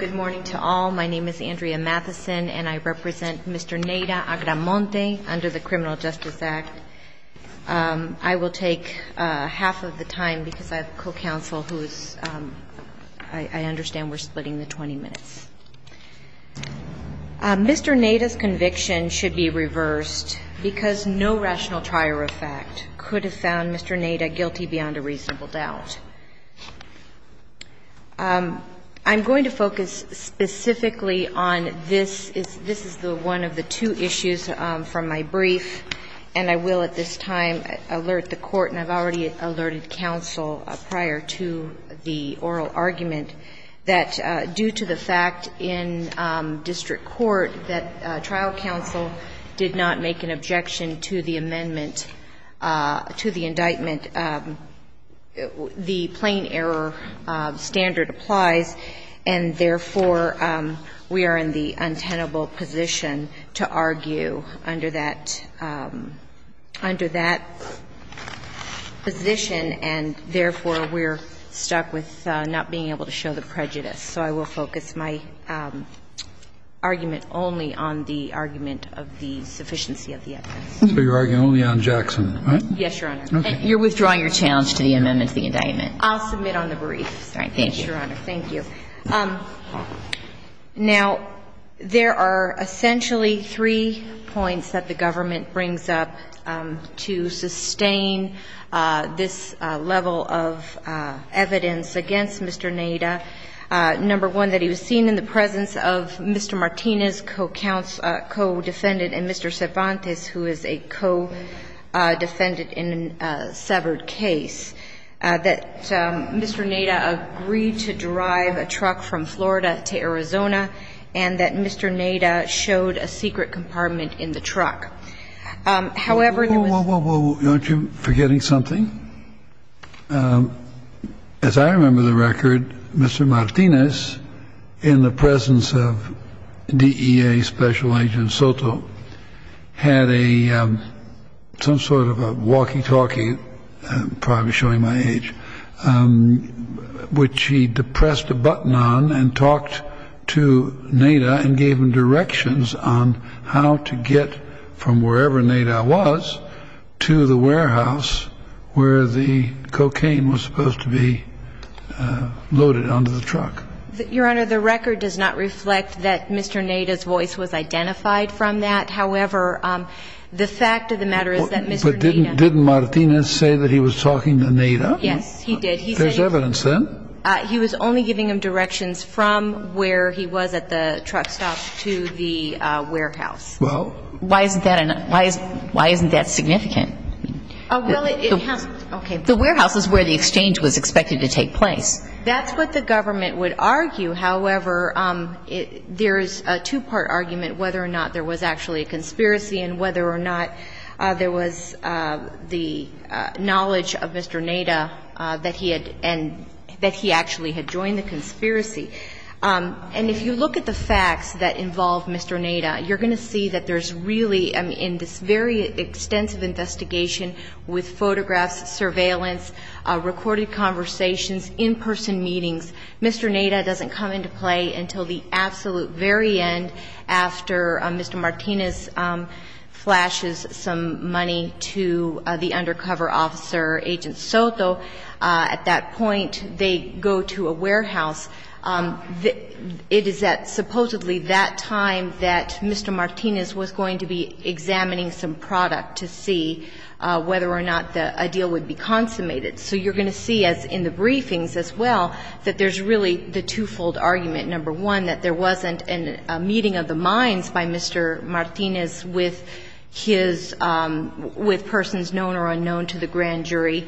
Good morning to all. My name is Andrea Matheson, and I represent Mr. Neyra-Agramonte under the Criminal Justice Act. I will take half of the time because I have a co-counsel who is – I understand we're splitting the 20 minutes. Mr. Neda's conviction should be reversed because no rational trier of fact could have found Mr. Neda guilty beyond a reasonable doubt. I'm going to focus specifically on this. This is the one of the two issues from my brief, and I will at this time alert the Court, and I've already alerted counsel prior to the oral argument, that due to the fact in district court that trial counsel did not make an objection to the amendment – to the indictment, the plain error standard applies, and therefore, we are in the untenable position to argue under that – under that position and therefore, we're stuck with not being able to show the prejudice. So I will focus my argument only on the argument of the sufficiency of the evidence. So you're arguing only on Jackson, right? Yes, Your Honor. Okay. You're withdrawing your challenge to the amendment to the indictment. I'll submit on the brief. All right. Thank you. Thank you, Your Honor. Thank you. Now, there are essentially three points that the government brings up to sustain this level of evidence against Mr. Neda. Number one, that he was seen in the presence of Mr. Martinez, co-counsel, co-defendant, and Mr. Cervantes, who is a co-defendant in a severed case. Number two, that he was seen in the presence of Mr. Cervantes, who is a co-defendant in a severed case. Number three, that Mr. Neda agreed to drive a truck from Florida to Arizona, and that Mr. Neda showed a secret compartment in the truck. However, there was – Mr. Neda? Yes, he did. There's evidence then. He was only giving him directions from where he was at the truck stop to the warehouse. Well, why isn't that – why isn't that significant? Well, it has – okay. The warehouse is where the exchange was expected to take place. That's what the government would argue. And that's why I'm not going to go into the specifics of the conspiracy and whether or not there was the knowledge of Mr. Neda that he had – that he actually had joined the conspiracy. And if you look at the facts that involve Mr. Neda, you're going to see that there's really, in this very extensive investigation with some money to the undercover officer, Agent Soto. At that point, they go to a warehouse. It is at supposedly that time that Mr. Martinez was going to be examining some product to see whether or not a deal would be consummated. So you're going to see in the briefings as well that there's really the twofold argument. Number one, that there wasn't a meeting of the minds by Mr. Martinez with his – with persons known or unknown to the grand jury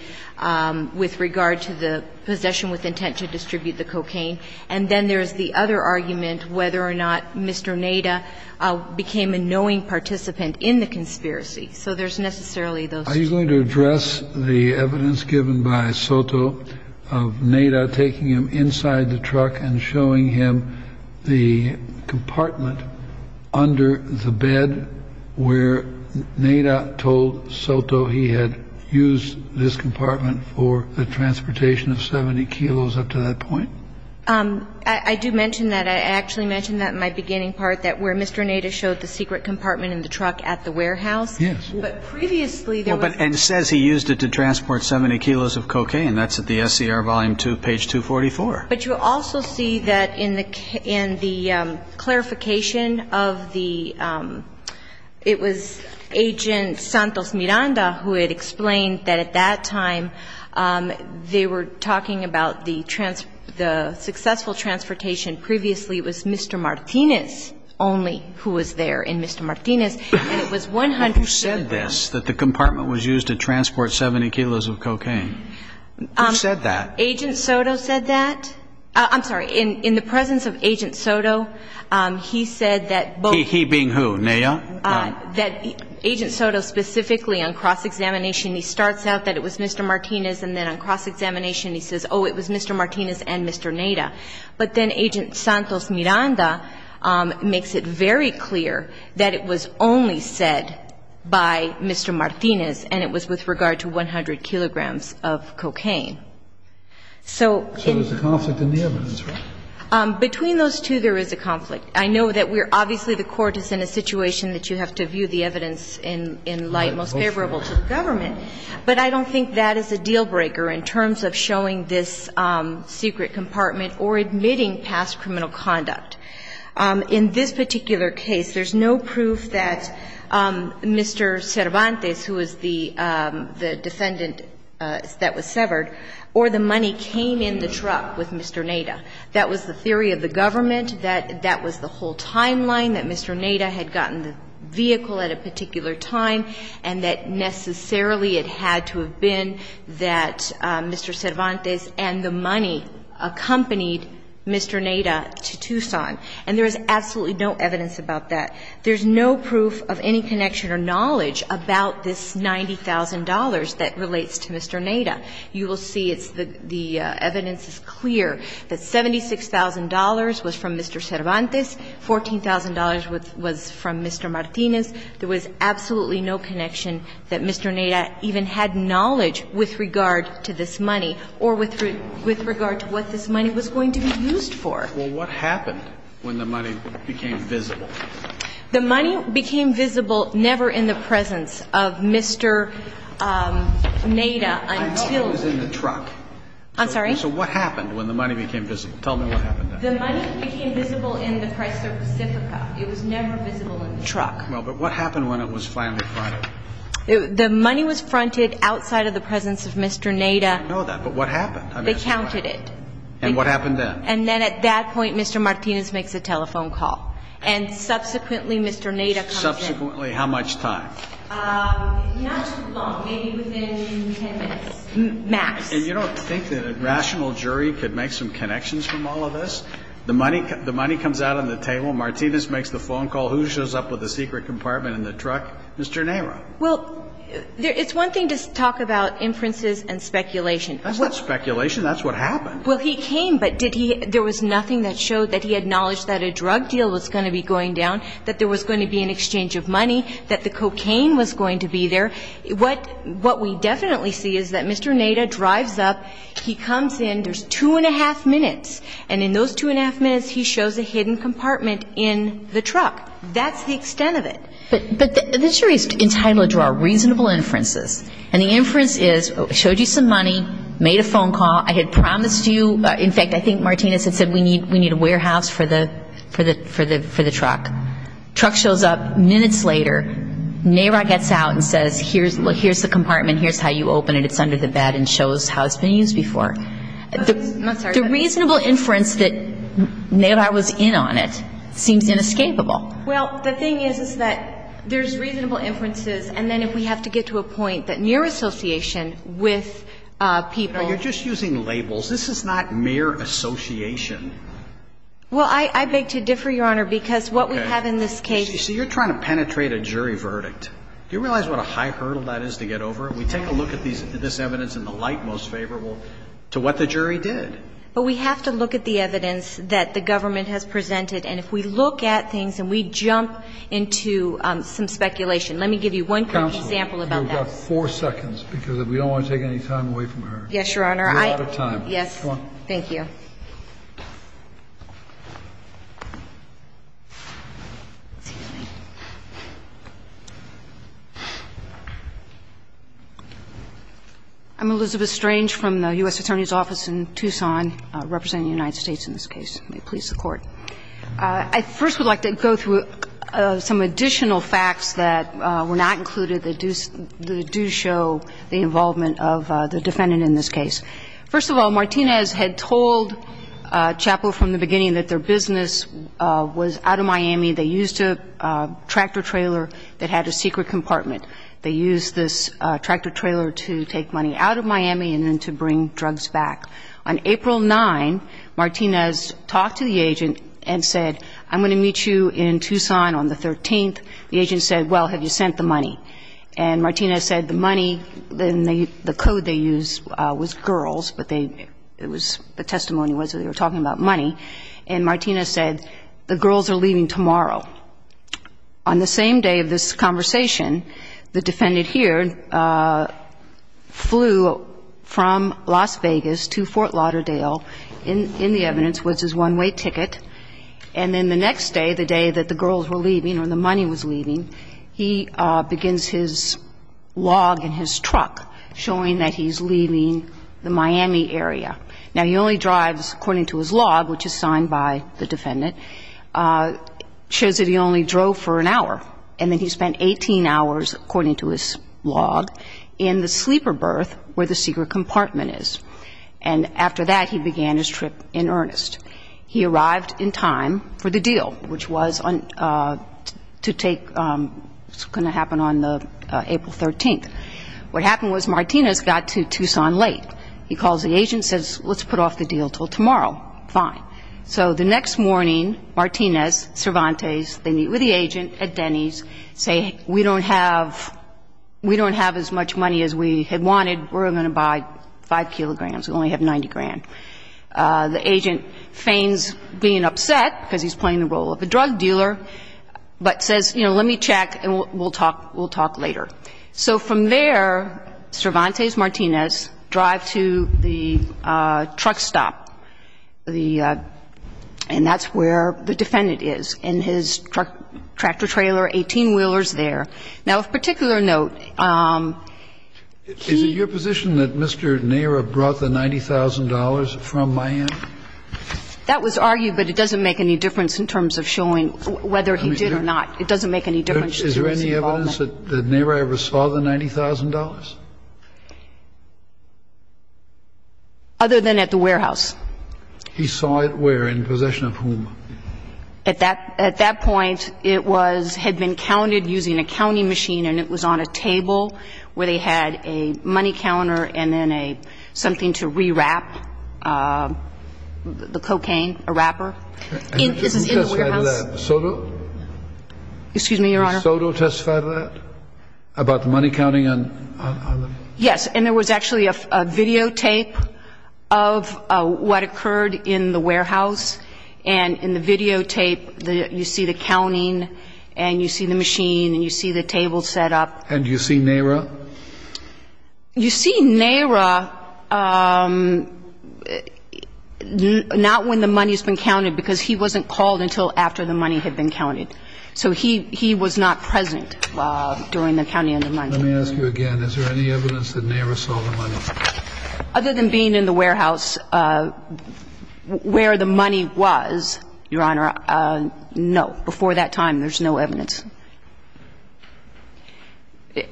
with regard to the possession with intent to distribute the cocaine. And then there's the other argument, whether or not Mr. Neda became a knowing participant in the conspiracy. So there's necessarily those two. Are you going to address the evidence given by Soto of Neda taking him inside the truck and showing him the compartment under the bed where Neda told Soto he had used this compartment for the transportation of 70 kilos up to that point? I do mention that. I actually mentioned that in my beginning part, that where Mr. Neda showed the secret compartment in the truck at the warehouse. Yes. But previously there was – And says he used it to transport 70 kilos of cocaine. That's at the SCR volume 2, page 244. But you also see that in the clarification of the – it was Agent Santos Miranda who had explained that at that time they were talking about the successful transportation. Previously it was Mr. Martinez only who was there. And Mr. Martinez – Who said this, that the compartment was used to transport 70 kilos of cocaine? Who said that? Agent Soto said that. I'm sorry. In the presence of Agent Soto, he said that both – He being who, Neda? That Agent Soto specifically on cross-examination, he starts out that it was Mr. Martinez, and then on cross-examination he says, oh, it was Mr. Martinez and Mr. Neda. But then Agent Santos Miranda makes it very clear that it was only said by Mr. Martinez and it was with regard to 100 kilograms of cocaine. So – So there's a conflict in the evidence, right? Between those two there is a conflict. I know that we're – obviously the Court is in a situation that you have to view the evidence in light most favorable to the government. But I don't think that is a deal-breaker in terms of showing this secret compartment or admitting past criminal conduct. In this particular case, there's no proof that Mr. Cervantes, who was the defendant that was severed, or the money came in the truck with Mr. Neda. That was the theory of the government. That was the whole timeline, that Mr. Neda had gotten the vehicle at a particular time, and that necessarily it had to have been that Mr. Cervantes and the money accompanied Mr. Neda to Tucson. And there is absolutely no evidence about that. There's no proof of any connection or knowledge about this $90,000 that relates to Mr. Neda. You will see it's – the evidence is clear that $76,000 was from Mr. Cervantes, $14,000 was from Mr. Martinez. There was absolutely no connection that Mr. Neda even had knowledge with regard to this money or with regard to what this money was going to be used for. Well, what happened when the money became visible? The money became visible never in the presence of Mr. Neda until the – I know it was in the truck. I'm sorry? So what happened when the money became visible? Tell me what happened then. The money became visible in the Chrysler Pacifica. It was never visible in the truck. Well, but what happened when it was finally fronted? The money was fronted outside of the presence of Mr. Neda. I didn't know that, but what happened? They counted it. And what happened then? And then at that point Mr. Martinez makes a telephone call. And subsequently Mr. Neda comes in. Subsequently how much time? Not too long, maybe within 10 minutes, max. And you don't think that a rational jury could make some connections from all of this? The money comes out on the table. Martinez makes the phone call. Who shows up with the secret compartment in the truck? Mr. Neda. Well, it's one thing to talk about inferences and speculation. That's not speculation. That's what happened. Well, he came, but did he – there was nothing that showed that he acknowledged that a drug deal was going to be going down, that there was going to be an exchange of money, that the cocaine was going to be there. What we definitely see is that Mr. Neda drives up. He comes in. There's two and a half minutes. And in those two and a half minutes he shows a hidden compartment in the truck. That's the extent of it. But the jury's entitled to draw reasonable inferences. And the inference is, showed you some money, made a phone call. I had promised you – in fact, I think Martinez had said we need a warehouse for the truck. Truck shows up. Minutes later, Neda gets out and says, here's the compartment. Here's how you open it. It's under the bed and shows how it's been used before. I'm sorry. The reasonable inference that Neda was in on it seems inescapable. Well, the thing is, is that there's reasonable inferences. And then if we have to get to a point that mere association with people – You're just using labels. This is not mere association. Well, I beg to differ, Your Honor, because what we have in this case – Okay. So you're trying to penetrate a jury verdict. Do you realize what a high hurdle that is to get over? We take a look at this evidence in the light most favorable to what the jury did. But we have to look at the evidence that the government has presented. And if we look at things and we jump into some speculation. Let me give you one quick example about that. Counsel, you've got four seconds, because we don't want to take any time away from her. Yes, Your Honor. We're out of time. Thank you. I'm Elizabeth Strange from the U.S. Attorney's Office in Tucson, representing the United States in this case. May it please the Court. I first would like to go through some additional facts that were not included that do show the involvement of the defendant in this case. First of all, I would like to point out that the defendant's business was out of Miami. They used a tractor-trailer that had a secret compartment. They used this tractor-trailer to take money out of Miami and then to bring drugs back. On April 9th, Martinez talked to the agent and said, I'm going to meet you in Tucson on the 13th. The agent said, well, have you sent the money? And Martinez said the money, the code they used was girls, but it was the testimony was that they were talking about money. And Martinez said, the girls are leaving tomorrow. On the same day of this conversation, the defendant here flew from Las Vegas to Fort Lauderdale in the evidence, which is one-way ticket. And then the next day, the day that the girls were leaving or the money was leaving, he begins his log in his truck showing that he's leaving the Miami area. Now, he only drives, according to his log, which is signed by the defendant, shows that he only drove for an hour. And then he spent 18 hours, according to his log, in the sleeper berth where the secret compartment is. And after that, he began his trip in earnest. He arrived in time for the deal, which was to take going to happen on April 13th. What happened was Martinez got to Tucson late. He calls the agent, says, let's put off the deal until tomorrow. Fine. So the next morning, Martinez, Cervantes, they meet with the agent at Denny's, say, we don't have as much money as we had wanted. We're going to buy 5 kilograms. We only have 90 grand. The agent feigns being upset because he's playing the role of a drug dealer, but says, you know, let me check and we'll talk later. So from there, Cervantes, Martinez, drive to the truck stop. And that's where the defendant is in his truck, tractor-trailer, 18-wheelers there. Now, of particular note, he ---- Is it your position that Mr. Nera brought the $90,000 from Miami? That was argued, but it doesn't make any difference in terms of showing whether he did or not. It doesn't make any difference to his involvement. And it doesn't make any difference to the defense that Nera ever saw the $90,000? Other than at the warehouse. He saw it where? In possession of whom? At that point, it was ---- had been counted using a counting machine and it was on a table where they had a money counter and then a ---- something to rewrap the cocaine, a wrapper. In the warehouse. And did you testify to that? Soto? Excuse me, Your Honor. Did Soto testify to that? About the money counting on the ---- Yes. And there was actually a videotape of what occurred in the warehouse. And in the videotape, you see the counting and you see the machine and you see the table set up. And you see Nera? You see Nera not when the money's been counted because he wasn't called until after the money had been counted. So he was not present during the counting of the money. Let me ask you again. Is there any evidence that Nera saw the money? Other than being in the warehouse where the money was, Your Honor, no. Before that time, there's no evidence.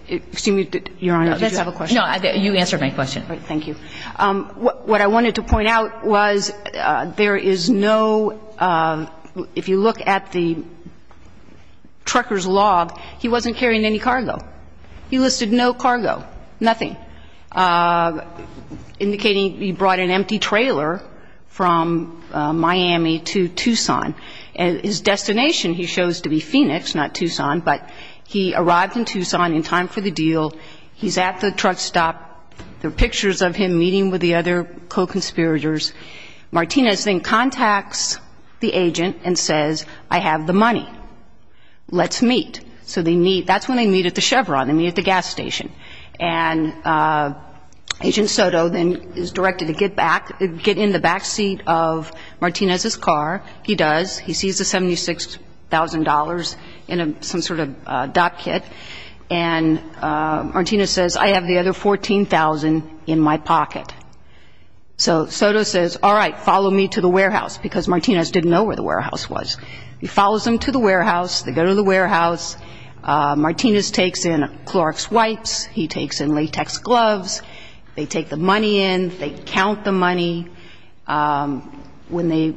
Excuse me, Your Honor, did you have a question? No. You answered my question. Thank you. What I wanted to point out was there is no ---- if you look at the trucker's log, he wasn't carrying any cargo. He listed no cargo, nothing, indicating he brought an empty trailer from Miami to Tucson. His destination, he shows to be Phoenix, not Tucson. But he arrived in Tucson in time for the deal. He's at the truck stop. There are pictures of him meeting with the other co-conspirators. Martinez then contacts the agent and says, I have the money. Let's meet. So they meet. That's when they meet at the Chevron. They meet at the gas station. And Agent Soto then is directed to get back, get in the backseat of Martinez's car. He does. He sees the $76,000 in some sort of dot kit. And Martinez says, I have the other $14,000 in my pocket. So Soto says, all right, follow me to the warehouse, because Martinez didn't know where the warehouse was. He follows them to the warehouse. They go to the warehouse. Martinez takes in Clorox wipes. He takes in latex gloves. They take the money in. They count the money. When they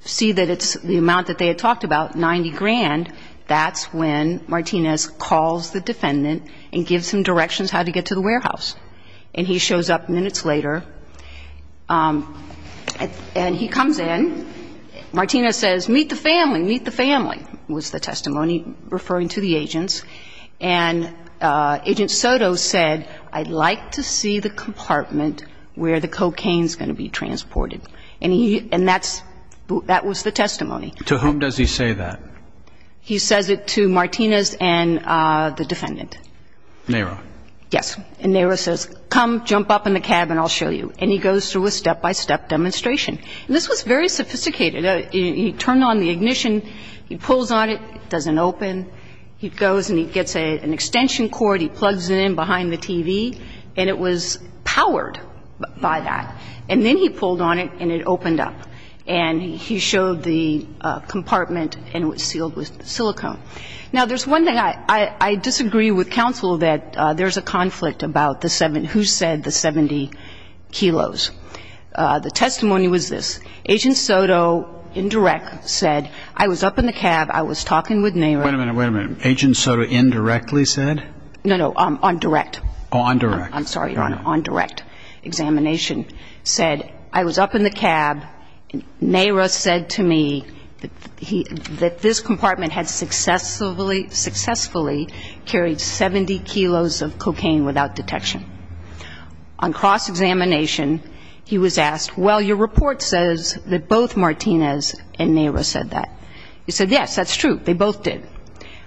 see that it's the amount that they had talked about, 90 grand, that's when Martinez calls the defendant and gives him directions how to get to the warehouse. And he shows up minutes later. And he comes in. Martinez says, meet the family, meet the family, was the testimony referring to the agents. And Agent Soto said, I'd like to see the compartment where the cocaine is going to be transported. And that was the testimony. To whom does he say that? He says it to Martinez and the defendant. NARA. Yes. And NARA says, come jump up in the cab and I'll show you. And he goes through a step-by-step demonstration. And this was very sophisticated. He turned on the ignition. He pulls on it. It doesn't open. He goes and he gets an extension cord. He plugs it in behind the TV. And it was powered by that. And then he pulled on it and it opened up. And he showed the compartment and it was sealed with silicone. Now, there's one thing. I disagree with counsel that there's a conflict about who said the 70 kilos. The testimony was this. Agent Soto, in direct, said, I was up in the cab. I was talking with NARA. Wait a minute, wait a minute. Agent Soto indirectly said? No, no, on direct. Oh, on direct. I'm sorry, Your Honor. On direct examination said, I was up in the cab. NARA said to me that this compartment had successfully carried 70 kilos of cocaine without detection. On cross-examination, he was asked, well, your report says that both Martinez and NARA said that. He said, yes, that's true. They both did.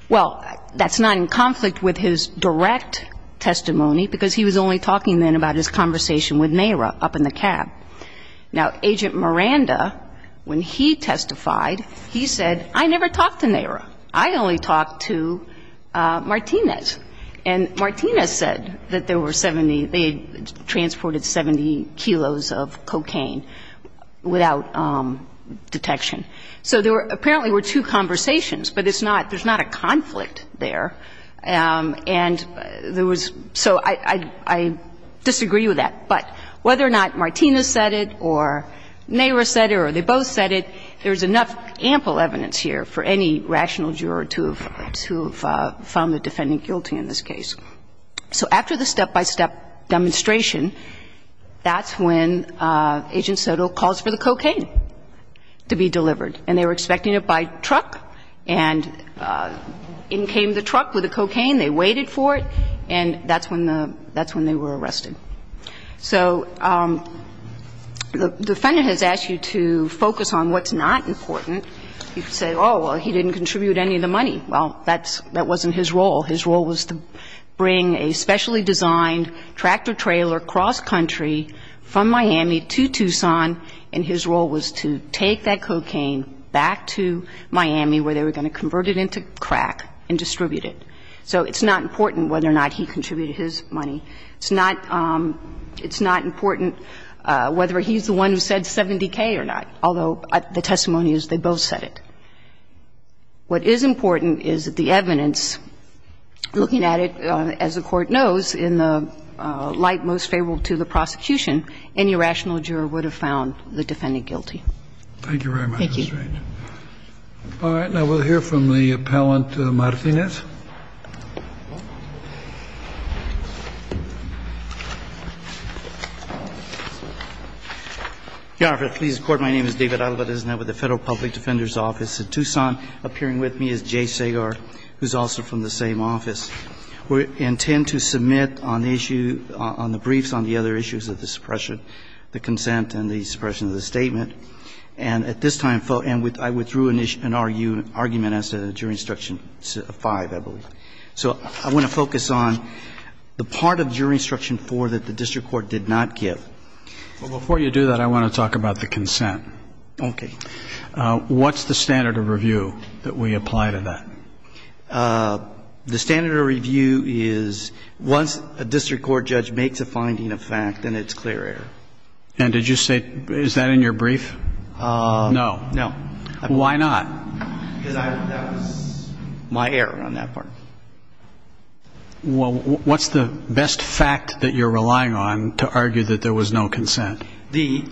Well, that's not in conflict with his direct testimony, because he was only talking then about his conversation with NARA up in the cab. Now, Agent Miranda, when he testified, he said, I never talked to NARA. I only talked to Martinez. And Martinez said that there were 70 they transported 70 kilos of cocaine without detection. So there apparently were two conversations, but it's not – there's not a conflict there. And there was – so I disagree with that. But whether or not Martinez said it or NARA said it or they both said it, there's enough ample evidence here for any rational juror to have found the defendant guilty in this case. So after the step-by-step demonstration, that's when Agent Soto calls for the cocaine to be delivered. And they were expecting it by truck. And in came the truck with the cocaine. They waited for it. And that's when the – that's when they were arrested. So the defendant has asked you to focus on what's not important. You could say, oh, well, he didn't contribute any of the money. Well, that's – that wasn't his role. His role was to bring a specially designed tractor-trailer cross-country from Miami to Tucson. And his role was to take that cocaine back to Miami where they were going to convert it into crack and distribute it. So it's not important whether or not he contributed his money. It's not – it's not important whether he's the one who said 70K or not, although the testimony is they both said it. What is important is that the evidence, looking at it, as the Court knows, in the light most favorable to the prosecution, any rational juror would have found the defendant guilty. Thank you very much. Thank you. All right. Now we'll hear from the appellant, Martinez. Your Honor, if it please the Court, my name is David Alvarez, and I'm with the Federal Public Defender's Office in Tucson. Appearing with me is Jay Segar, who's also from the same office. We intend to submit on the issue – on the briefs on the other issues of the suppression, the consent, and the suppression of the statement. And at this time, I withdrew an argument as to Juror Instruction 5, I believe. So I want to focus on the part of Juror Instruction 4 that the district court did not give. Well, before you do that, I want to talk about the consent. Okay. What's the standard of review that we apply to that? The standard of review is once a district court judge makes a finding of fact, then it's clear error. And did you say – is that in your brief? No. No. Why not? Because that was my error on that part. Well, what's the best fact that you're relying on to argue that there was no consent? The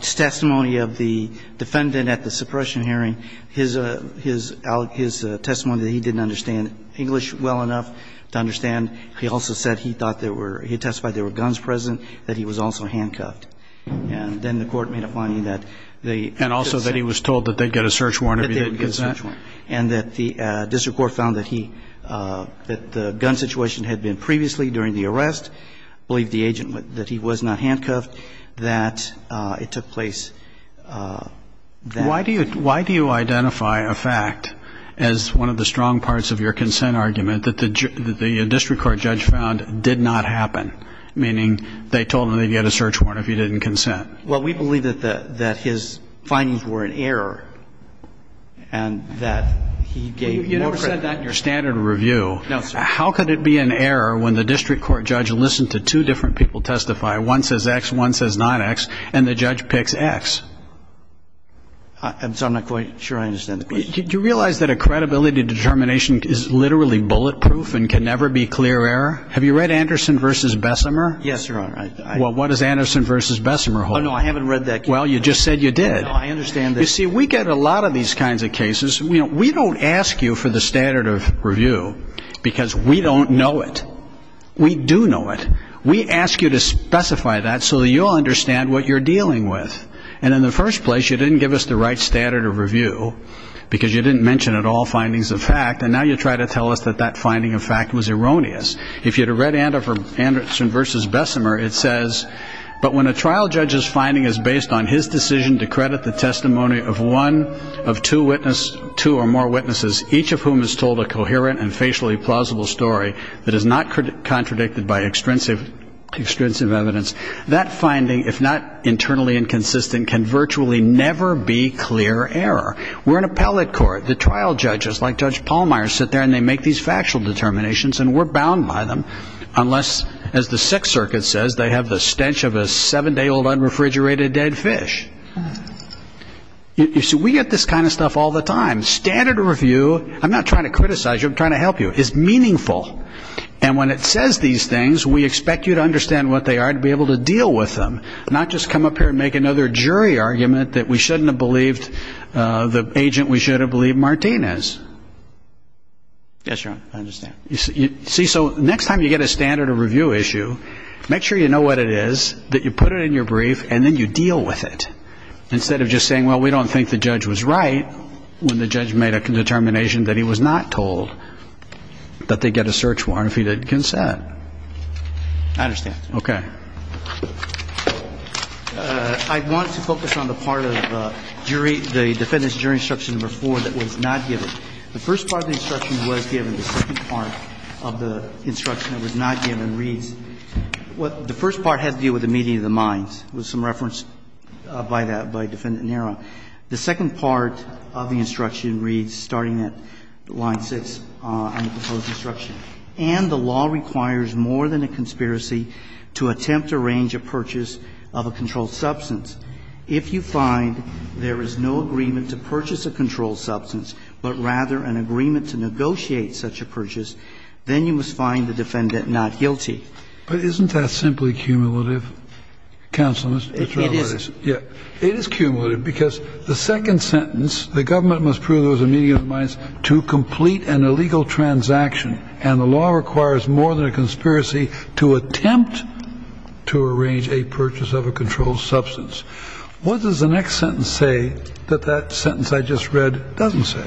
testimony of the defendant at the suppression hearing, his testimony that he didn't understand English well enough to understand. He also said he thought there were – he testified there were guns present, that he was also handcuffed. And then the court made a finding that they didn't consent. And also that he was told that they'd get a search warrant if he didn't consent. That they would get a search warrant. And that the district court found that he – that the gun situation had been previously during the arrest, believed the agent that he was not handcuffed, that it took place then. Why do you identify a fact as one of the strong parts of your consent argument that the district court judge found did not happen, meaning they told him they'd get a search warrant if he didn't consent? Well, we believe that his findings were an error and that he gave more credit. No, sir. How could it be an error when the district court judge listened to two different people testify, one says X, one says not X, and the judge picks X? I'm sorry, I'm not quite sure I understand the question. Do you realize that a credibility determination is literally bulletproof and can never be clear error? Have you read Anderson v. Bessemer? Yes, Your Honor. Well, what does Anderson v. Bessemer hold? Oh, no, I haven't read that case. Well, you just said you did. No, I understand that. You see, we get a lot of these kinds of cases. We don't ask you for the standard of review because we don't know it. We do know it. We ask you to specify that so that you'll understand what you're dealing with. And in the first place, you didn't give us the right standard of review because you didn't mention at all findings of fact, and now you try to tell us that that finding of fact was erroneous. If you had read Anderson v. Bessemer, it says, but when a trial judge's finding is based on his decision to credit the testimony of one of two or more witnesses, each of whom has told a coherent and facially plausible story that is not contradicted by extrinsic evidence, that finding, if not internally inconsistent, can virtually never be clear error. We're an appellate court. The trial judges, like Judge Pallmeyer, sit there and they make these factual determinations, and we're bound by them unless, as the Sixth Circuit says, they have the stench of a seven-day old unrefrigerated dead fish. You see, we get this kind of stuff all the time. Standard of review, I'm not trying to criticize you, I'm trying to help you, is meaningful. And when it says these things, we expect you to understand what they are and be able to deal with them, not just come up here and make another jury argument that we shouldn't have believed the agent we should have believed Martinez. Yes, Your Honor, I understand. See, so next time you get a standard of review issue, make sure you know what it is, that you put it in your brief and then you deal with it, instead of just saying, well, we don't think the judge was right when the judge made a determination that he was not told that they get a search warrant if he didn't consent. I understand. Okay. I want to focus on the part of jury, the defendant's jury instruction number four that was not given. The first part of the instruction was given, the second part of the instruction that was not given reads. What the first part has to do with the meeting of the minds. There was some reference by that, by Defendant Nero. The second part of the instruction reads, starting at line 6 on the proposed instruction. And the law requires more than a conspiracy to attempt to arrange a purchase of a controlled substance. If you find there is no agreement to purchase a controlled substance, but rather an agreement to negotiate such a purchase, then you must find the defendant not guilty. But isn't that simply cumulative? Counsel, if that's what it is. It is. It is cumulative because the second sentence, the government must prove there was a meeting of the minds to complete an illegal transaction, and the law requires more than a conspiracy to attempt to arrange a purchase of a controlled substance. What does the next sentence say that that sentence I just read doesn't say?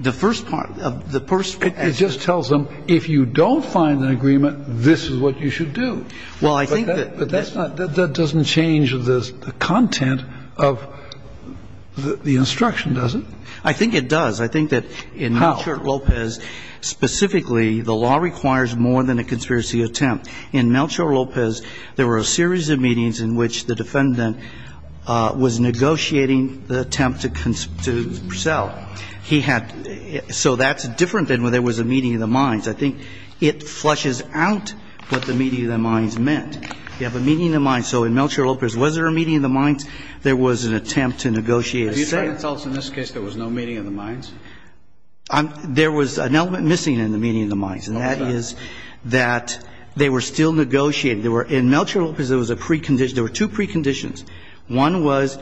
The first part, the first part. It just tells them if you don't find an agreement, this is what you should do. Well, I think that. But that's not, that doesn't change the content of the instruction, does it? I think it does. I think that in Melchor Lopez, specifically, the law requires more than a conspiracy attempt. In Melchor Lopez, there were a series of meetings in which the defendant was negotiating the attempt to sell. He had, so that's different than when there was a meeting of the minds. I think it flushes out what the meeting of the minds meant. You have a meeting of the minds. So in Melchor Lopez, was there a meeting of the minds? There was an attempt to negotiate a sale. Are you trying to tell us in this case there was no meeting of the minds? There was an element missing in the meeting of the minds, and that is that they were still negotiating. In Melchor Lopez, there was a precondition. There were two preconditions. One was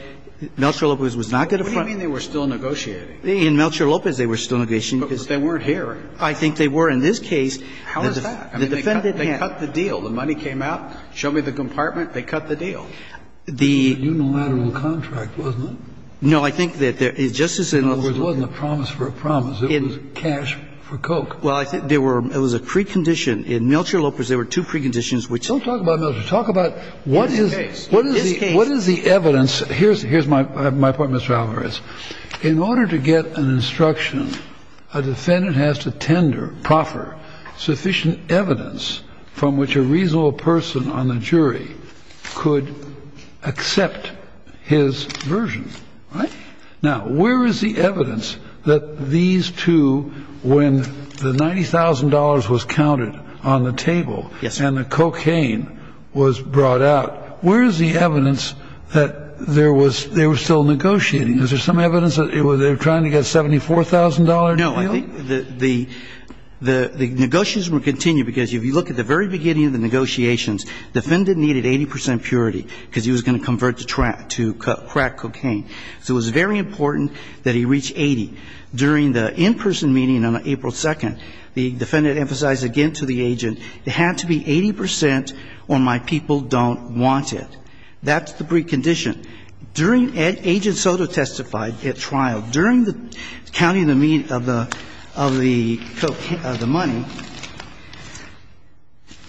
Melchor Lopez was not going to front. What do you mean they were still negotiating? In Melchor Lopez, they were still negotiating. But they weren't here. I think they were in this case. How is that? The defendant can't. They cut the deal. The money came out. Show me the compartment. They cut the deal. The unilateral contract, wasn't it? No, I think that there is, Justice Kennedy. In other words, it wasn't a promise for a promise. It was cash for Coke. Well, I think there were, it was a precondition. In Melchor Lopez, there were two preconditions which. Don't talk about Melchor. Talk about what is. In this case. In this case. What is the evidence? Here's my point, Mr. Alvarez. In order to get an instruction, a defendant has to tender, proffer sufficient evidence from which a reasonable person on the jury could accept his version. Now, where is the evidence that these two, when the $90,000 was counted on the table. Yes. And the cocaine was brought out. Where is the evidence that there was, they were still negotiating. Is there some evidence that they were trying to get a $74,000 deal? No. The negotiations would continue because if you look at the very beginning of the negotiations, the defendant needed 80 percent purity because he was going to convert to crack cocaine. So it was very important that he reach 80. During the in-person meeting on April 2nd, the defendant emphasized again to the agent, it had to be 80 percent or my people don't want it. That's the precondition. During agent Soto testified at trial, during the counting of the money,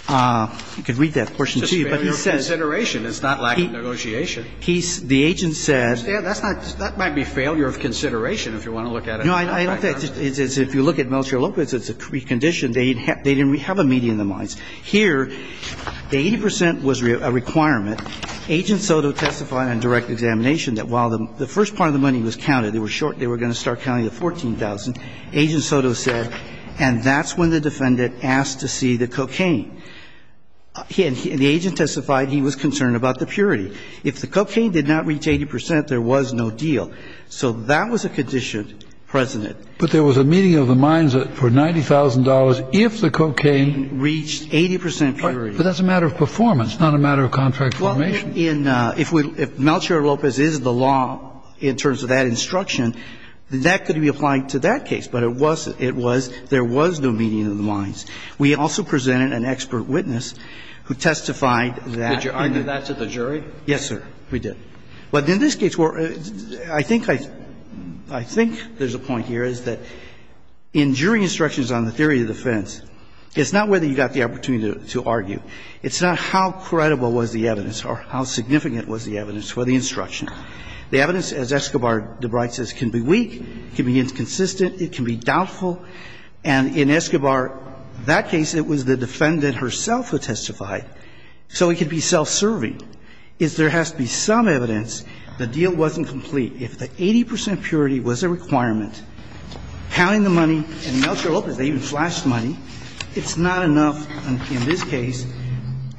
you can read that portion to you, but he says. It's a failure of consideration. It's not lack of negotiation. The agent said. That might be failure of consideration if you want to look at it. No, I don't think it is. If you look at Militia Lopez, it's a precondition. They didn't have a meeting in their minds. Here, the 80 percent was a requirement. Agent Soto testified on direct examination that while the first part of the money was counted, they were short. They were going to start counting the 14,000. Agent Soto said, and that's when the defendant asked to see the cocaine. And the agent testified he was concerned about the purity. If the cocaine did not reach 80 percent, there was no deal. So that was a condition present. But there was a meeting of the minds for $90,000 if the cocaine reached 80 percent purity. But that's a matter of performance, not a matter of contract formation. Well, if Militia Lopez is the law in terms of that instruction, that could be applied to that case. But it was, it was, there was no meeting of the minds. We also presented an expert witness who testified that. Did you argue that to the jury? Yes, sir, we did. But in this case, where I think I, I think there's a point here is that in jury instructions on the theory of defense, it's not whether you got the opportunity to argue. It's not how credible was the evidence or how significant was the evidence for the instruction. The evidence, as Escobar-DeBrite says, can be weak, can be inconsistent, it can be doubtful. And in Escobar, that case, it was the defendant herself who testified. So it could be self-serving. The point is there has to be some evidence the deal wasn't complete. If the 80 percent purity was a requirement, counting the money, and Militia Lopez, they even flashed money, it's not enough in this case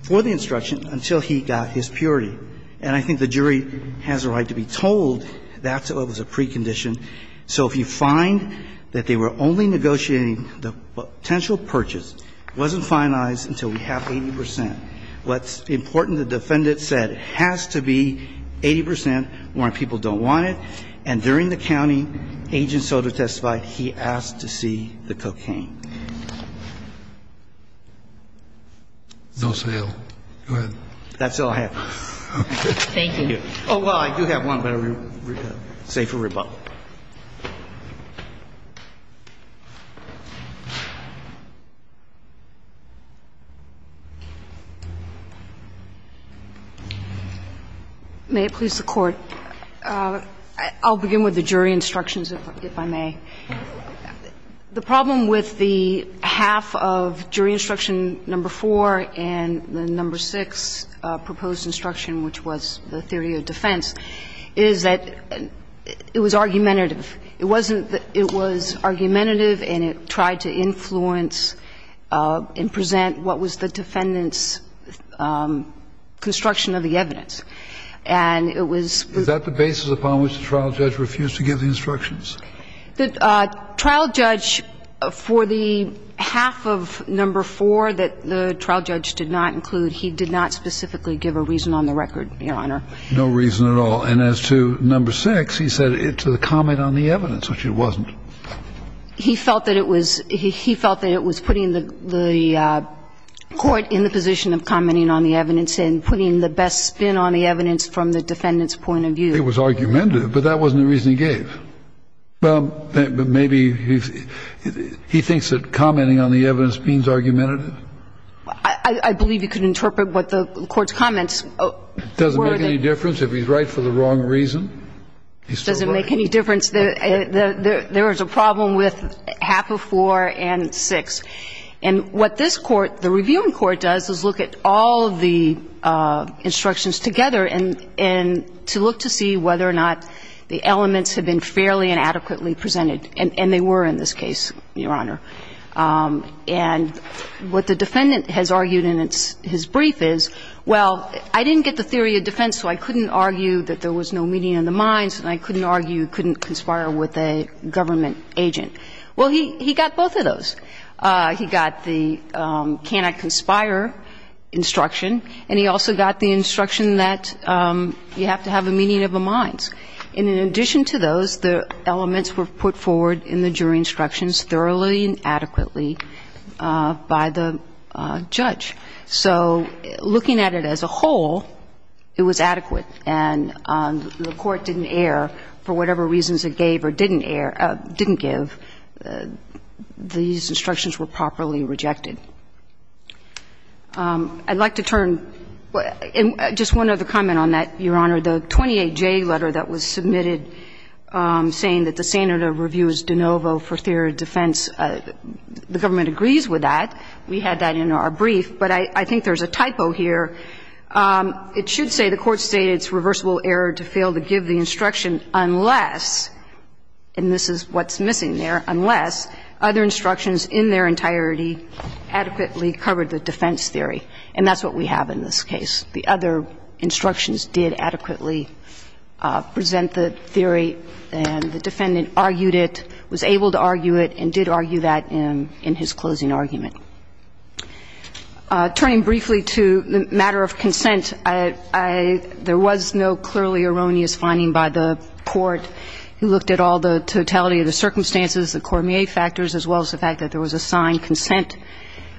for the instruction until he got his purity. And I think the jury has a right to be told that's what was a precondition. So if you find that they were only negotiating the potential purchase, wasn't finalized until we have 80 percent. What's important, the defendant said it has to be 80 percent or people don't want it. And during the county agent Soto testified, he asked to see the cocaine. No sale. Go ahead. That's all I have. Okay. Thank you. Oh, well, I do have one, but I'll say it for rebuttal. May it please the Court. I'll begin with the jury instructions, if I may. The problem with the half of jury instruction number 4 and the number 6 proposed instruction, which was the theory of defense, is that it was argumentative. It wasn't that it was argumentative and it tried to influence and present what was the defendant's construction of the evidence. And it was the basis upon which the trial judge refused to give the instructions. The trial judge for the half of number 4 that the trial judge did not include, he did not specifically give a reason on the record, Your Honor. No reason at all. And as to number 6, he said it's a comment on the evidence, which it wasn't. He felt that it was he felt that it was putting the court in the position of commenting on the evidence and putting the best spin on the evidence from the defendant's point of view. It was argumentative, but that wasn't the reason he gave. But maybe he thinks that commenting on the evidence means argumentative. I believe you could interpret what the court's comments were. Does it make any difference if he's right for the wrong reason? Does it make any difference? There is a problem with half of 4 and 6. And what this court, the reviewing court, does is look at all of the instructions together and to look to see whether or not the elements have been fairly and adequately presented. And they were in this case, Your Honor. And what the defendant has argued in his brief is, well, I didn't get the theory of defense, so I couldn't argue that there was no meeting of the minds, and I couldn't argue couldn't conspire with a government agent. Well, he got both of those. He got the cannot conspire instruction, and he also got the instruction that you have to have a meeting of the minds. And in addition to those, the elements were put forward in the jury instructions thoroughly and adequately by the judge. So looking at it as a whole, it was adequate. And the court didn't err for whatever reasons it gave or didn't err or didn't give. These instructions were properly rejected. I'd like to turn to just one other comment on that, Your Honor. The 28J letter that was submitted saying that the standard of review is de novo for theory of defense, the government agrees with that. We had that in our brief. But I think there's a typo here. It should say the Court stated it's reversible error to fail to give the instruction unless, and this is what's missing there, unless other instructions in their entirety adequately covered the defense theory. And that's what we have in this case. The other instructions did adequately present the theory, and the defendant argued it, was able to argue it, and did argue that in his closing argument. Turning briefly to the matter of consent, I — there was no clearly erroneous finding by the court who looked at all the totality of the circumstances, the Cormier factors, as well as the fact that there was a signed consent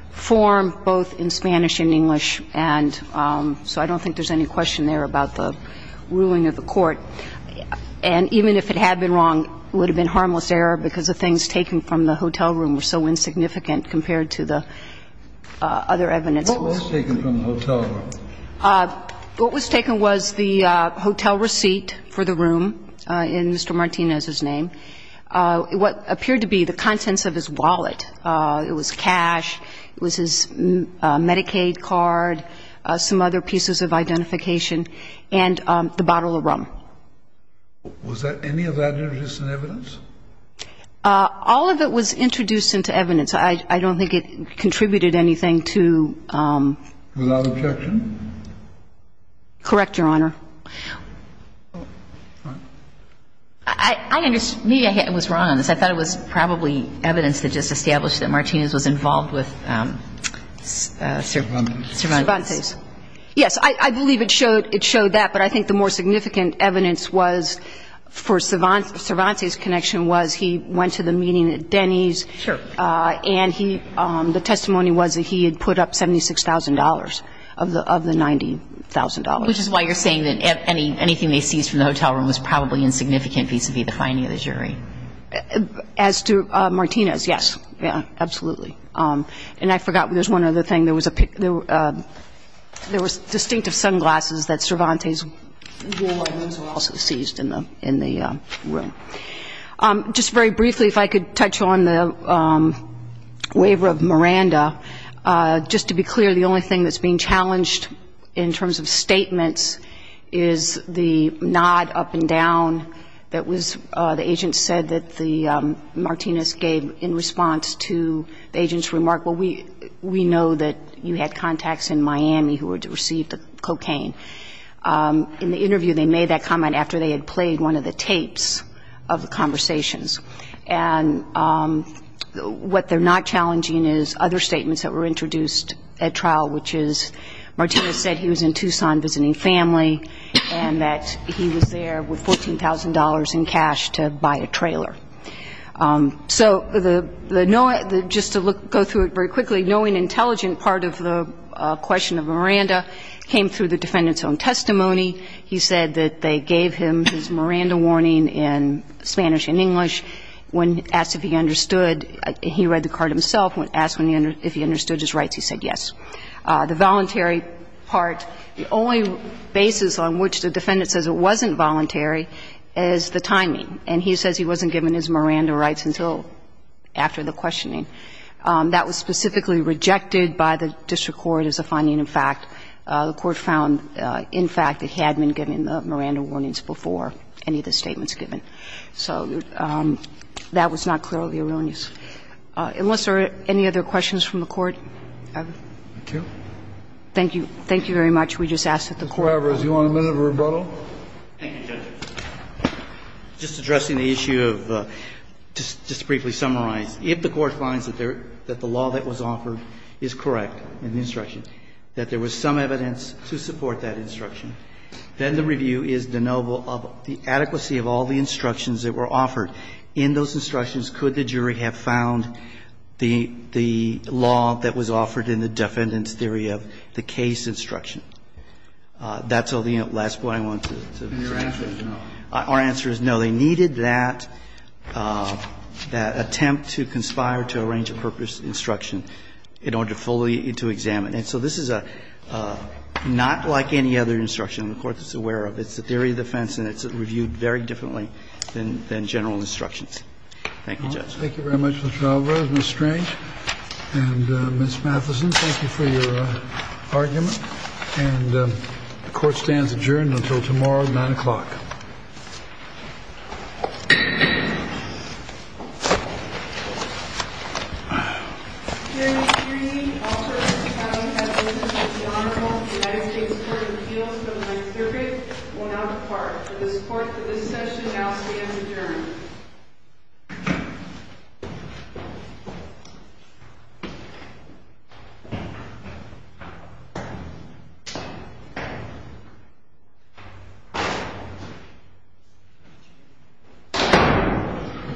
form both in Spanish and English, and so I don't think there's any question there about the ruling of the court. And even if it had been wrong, it would have been harmless error because the things taken from the hotel room were so insignificant compared to the other evidence. What was taken from the hotel room? What was taken was the hotel receipt for the room in Mr. Martinez's name. What appeared to be the contents of his wallet, it was cash, it was his Medicaid card, some other pieces of identification, and the bottle of rum. Was that — any of that introduced in evidence? All of it was introduced into evidence. I don't think it contributed anything to — Without objection? Correct, Your Honor. I — maybe I was wrong on this. I thought it was probably evidence that just established that Martinez was involved with Cervantes. Yes, I believe it showed that, but I think the more significant evidence was for Cervantes' connection was he went to the meeting at Denny's. Sure. And he — the testimony was that he had put up $76,000 of the $90,000. Which is why you're saying that anything they seized from the hotel room was probably insignificant vis-à-vis the finding of the jury. As to Martinez, yes. Yeah, absolutely. And I forgot there's one other thing. There was a — there was distinctive sunglasses that Cervantes wore and those were also seized in the room. Just very briefly, if I could touch on the waiver of Miranda. Just to be clear, the only thing that's being challenged in terms of statements is the nod up and down that was — the agent said that the Martinez gave in response to the agent's remark, well, we know that you had contacts in Miami who received the cocaine. In the interview, they made that comment after they had played one of the tapes of the conversations. And what they're not challenging is other statements that were introduced at trial, which is Martinez said he was in Tucson visiting family and that he was there with $14,000 in cash to buy a trailer. So the — just to go through it very quickly, knowing intelligent part of the question of Miranda came through the defendant's own testimony. He said that they gave him his Miranda warning in Spanish and English. When asked if he understood, he read the card himself. When asked if he understood his rights, he said yes. The voluntary part, the only basis on which the defendant says it wasn't voluntary is the timing. And he says he wasn't given his Miranda rights until after the questioning. That was specifically rejected by the district court as a finding of fact. The court found, in fact, it had been given the Miranda warnings before any of the statements given. So that was not clearly erroneous. Unless there are any other questions from the Court, I would. Thank you. Thank you. Thank you very much. We just asked that the Court. Mr. Cuevas, do you want a minute of rebuttal? Thank you, Judge. Just addressing the issue of — just to briefly summarize, if the Court finds that the law that was offered is correct in the instruction, that there was some evidence to support that instruction, then the review is de novo of the adequacy of all the instructions that were offered. In those instructions, could the jury have found the law that was offered in the defendant's theory of the case instruction? That's all the last point I wanted to make. Your answer is no. Our answer is no. And so they needed that attempt to conspire to arrange a purpose instruction in order to fully examine. And so this is not like any other instruction the Court is aware of. It's a theory of defense, and it's reviewed very differently than general instructions. Thank you, Judge. Thank you very much, Mr. Alvarez. Ms. Strange and Ms. Matheson, thank you for your argument. And the Court stands adjourned until tomorrow at 9 o'clock. Hearing three, all jurors who have not had a listen to the Honorable United States Court of Appeals but might hear it will now depart. For the support for this session, I'll stand adjourned. Thank you.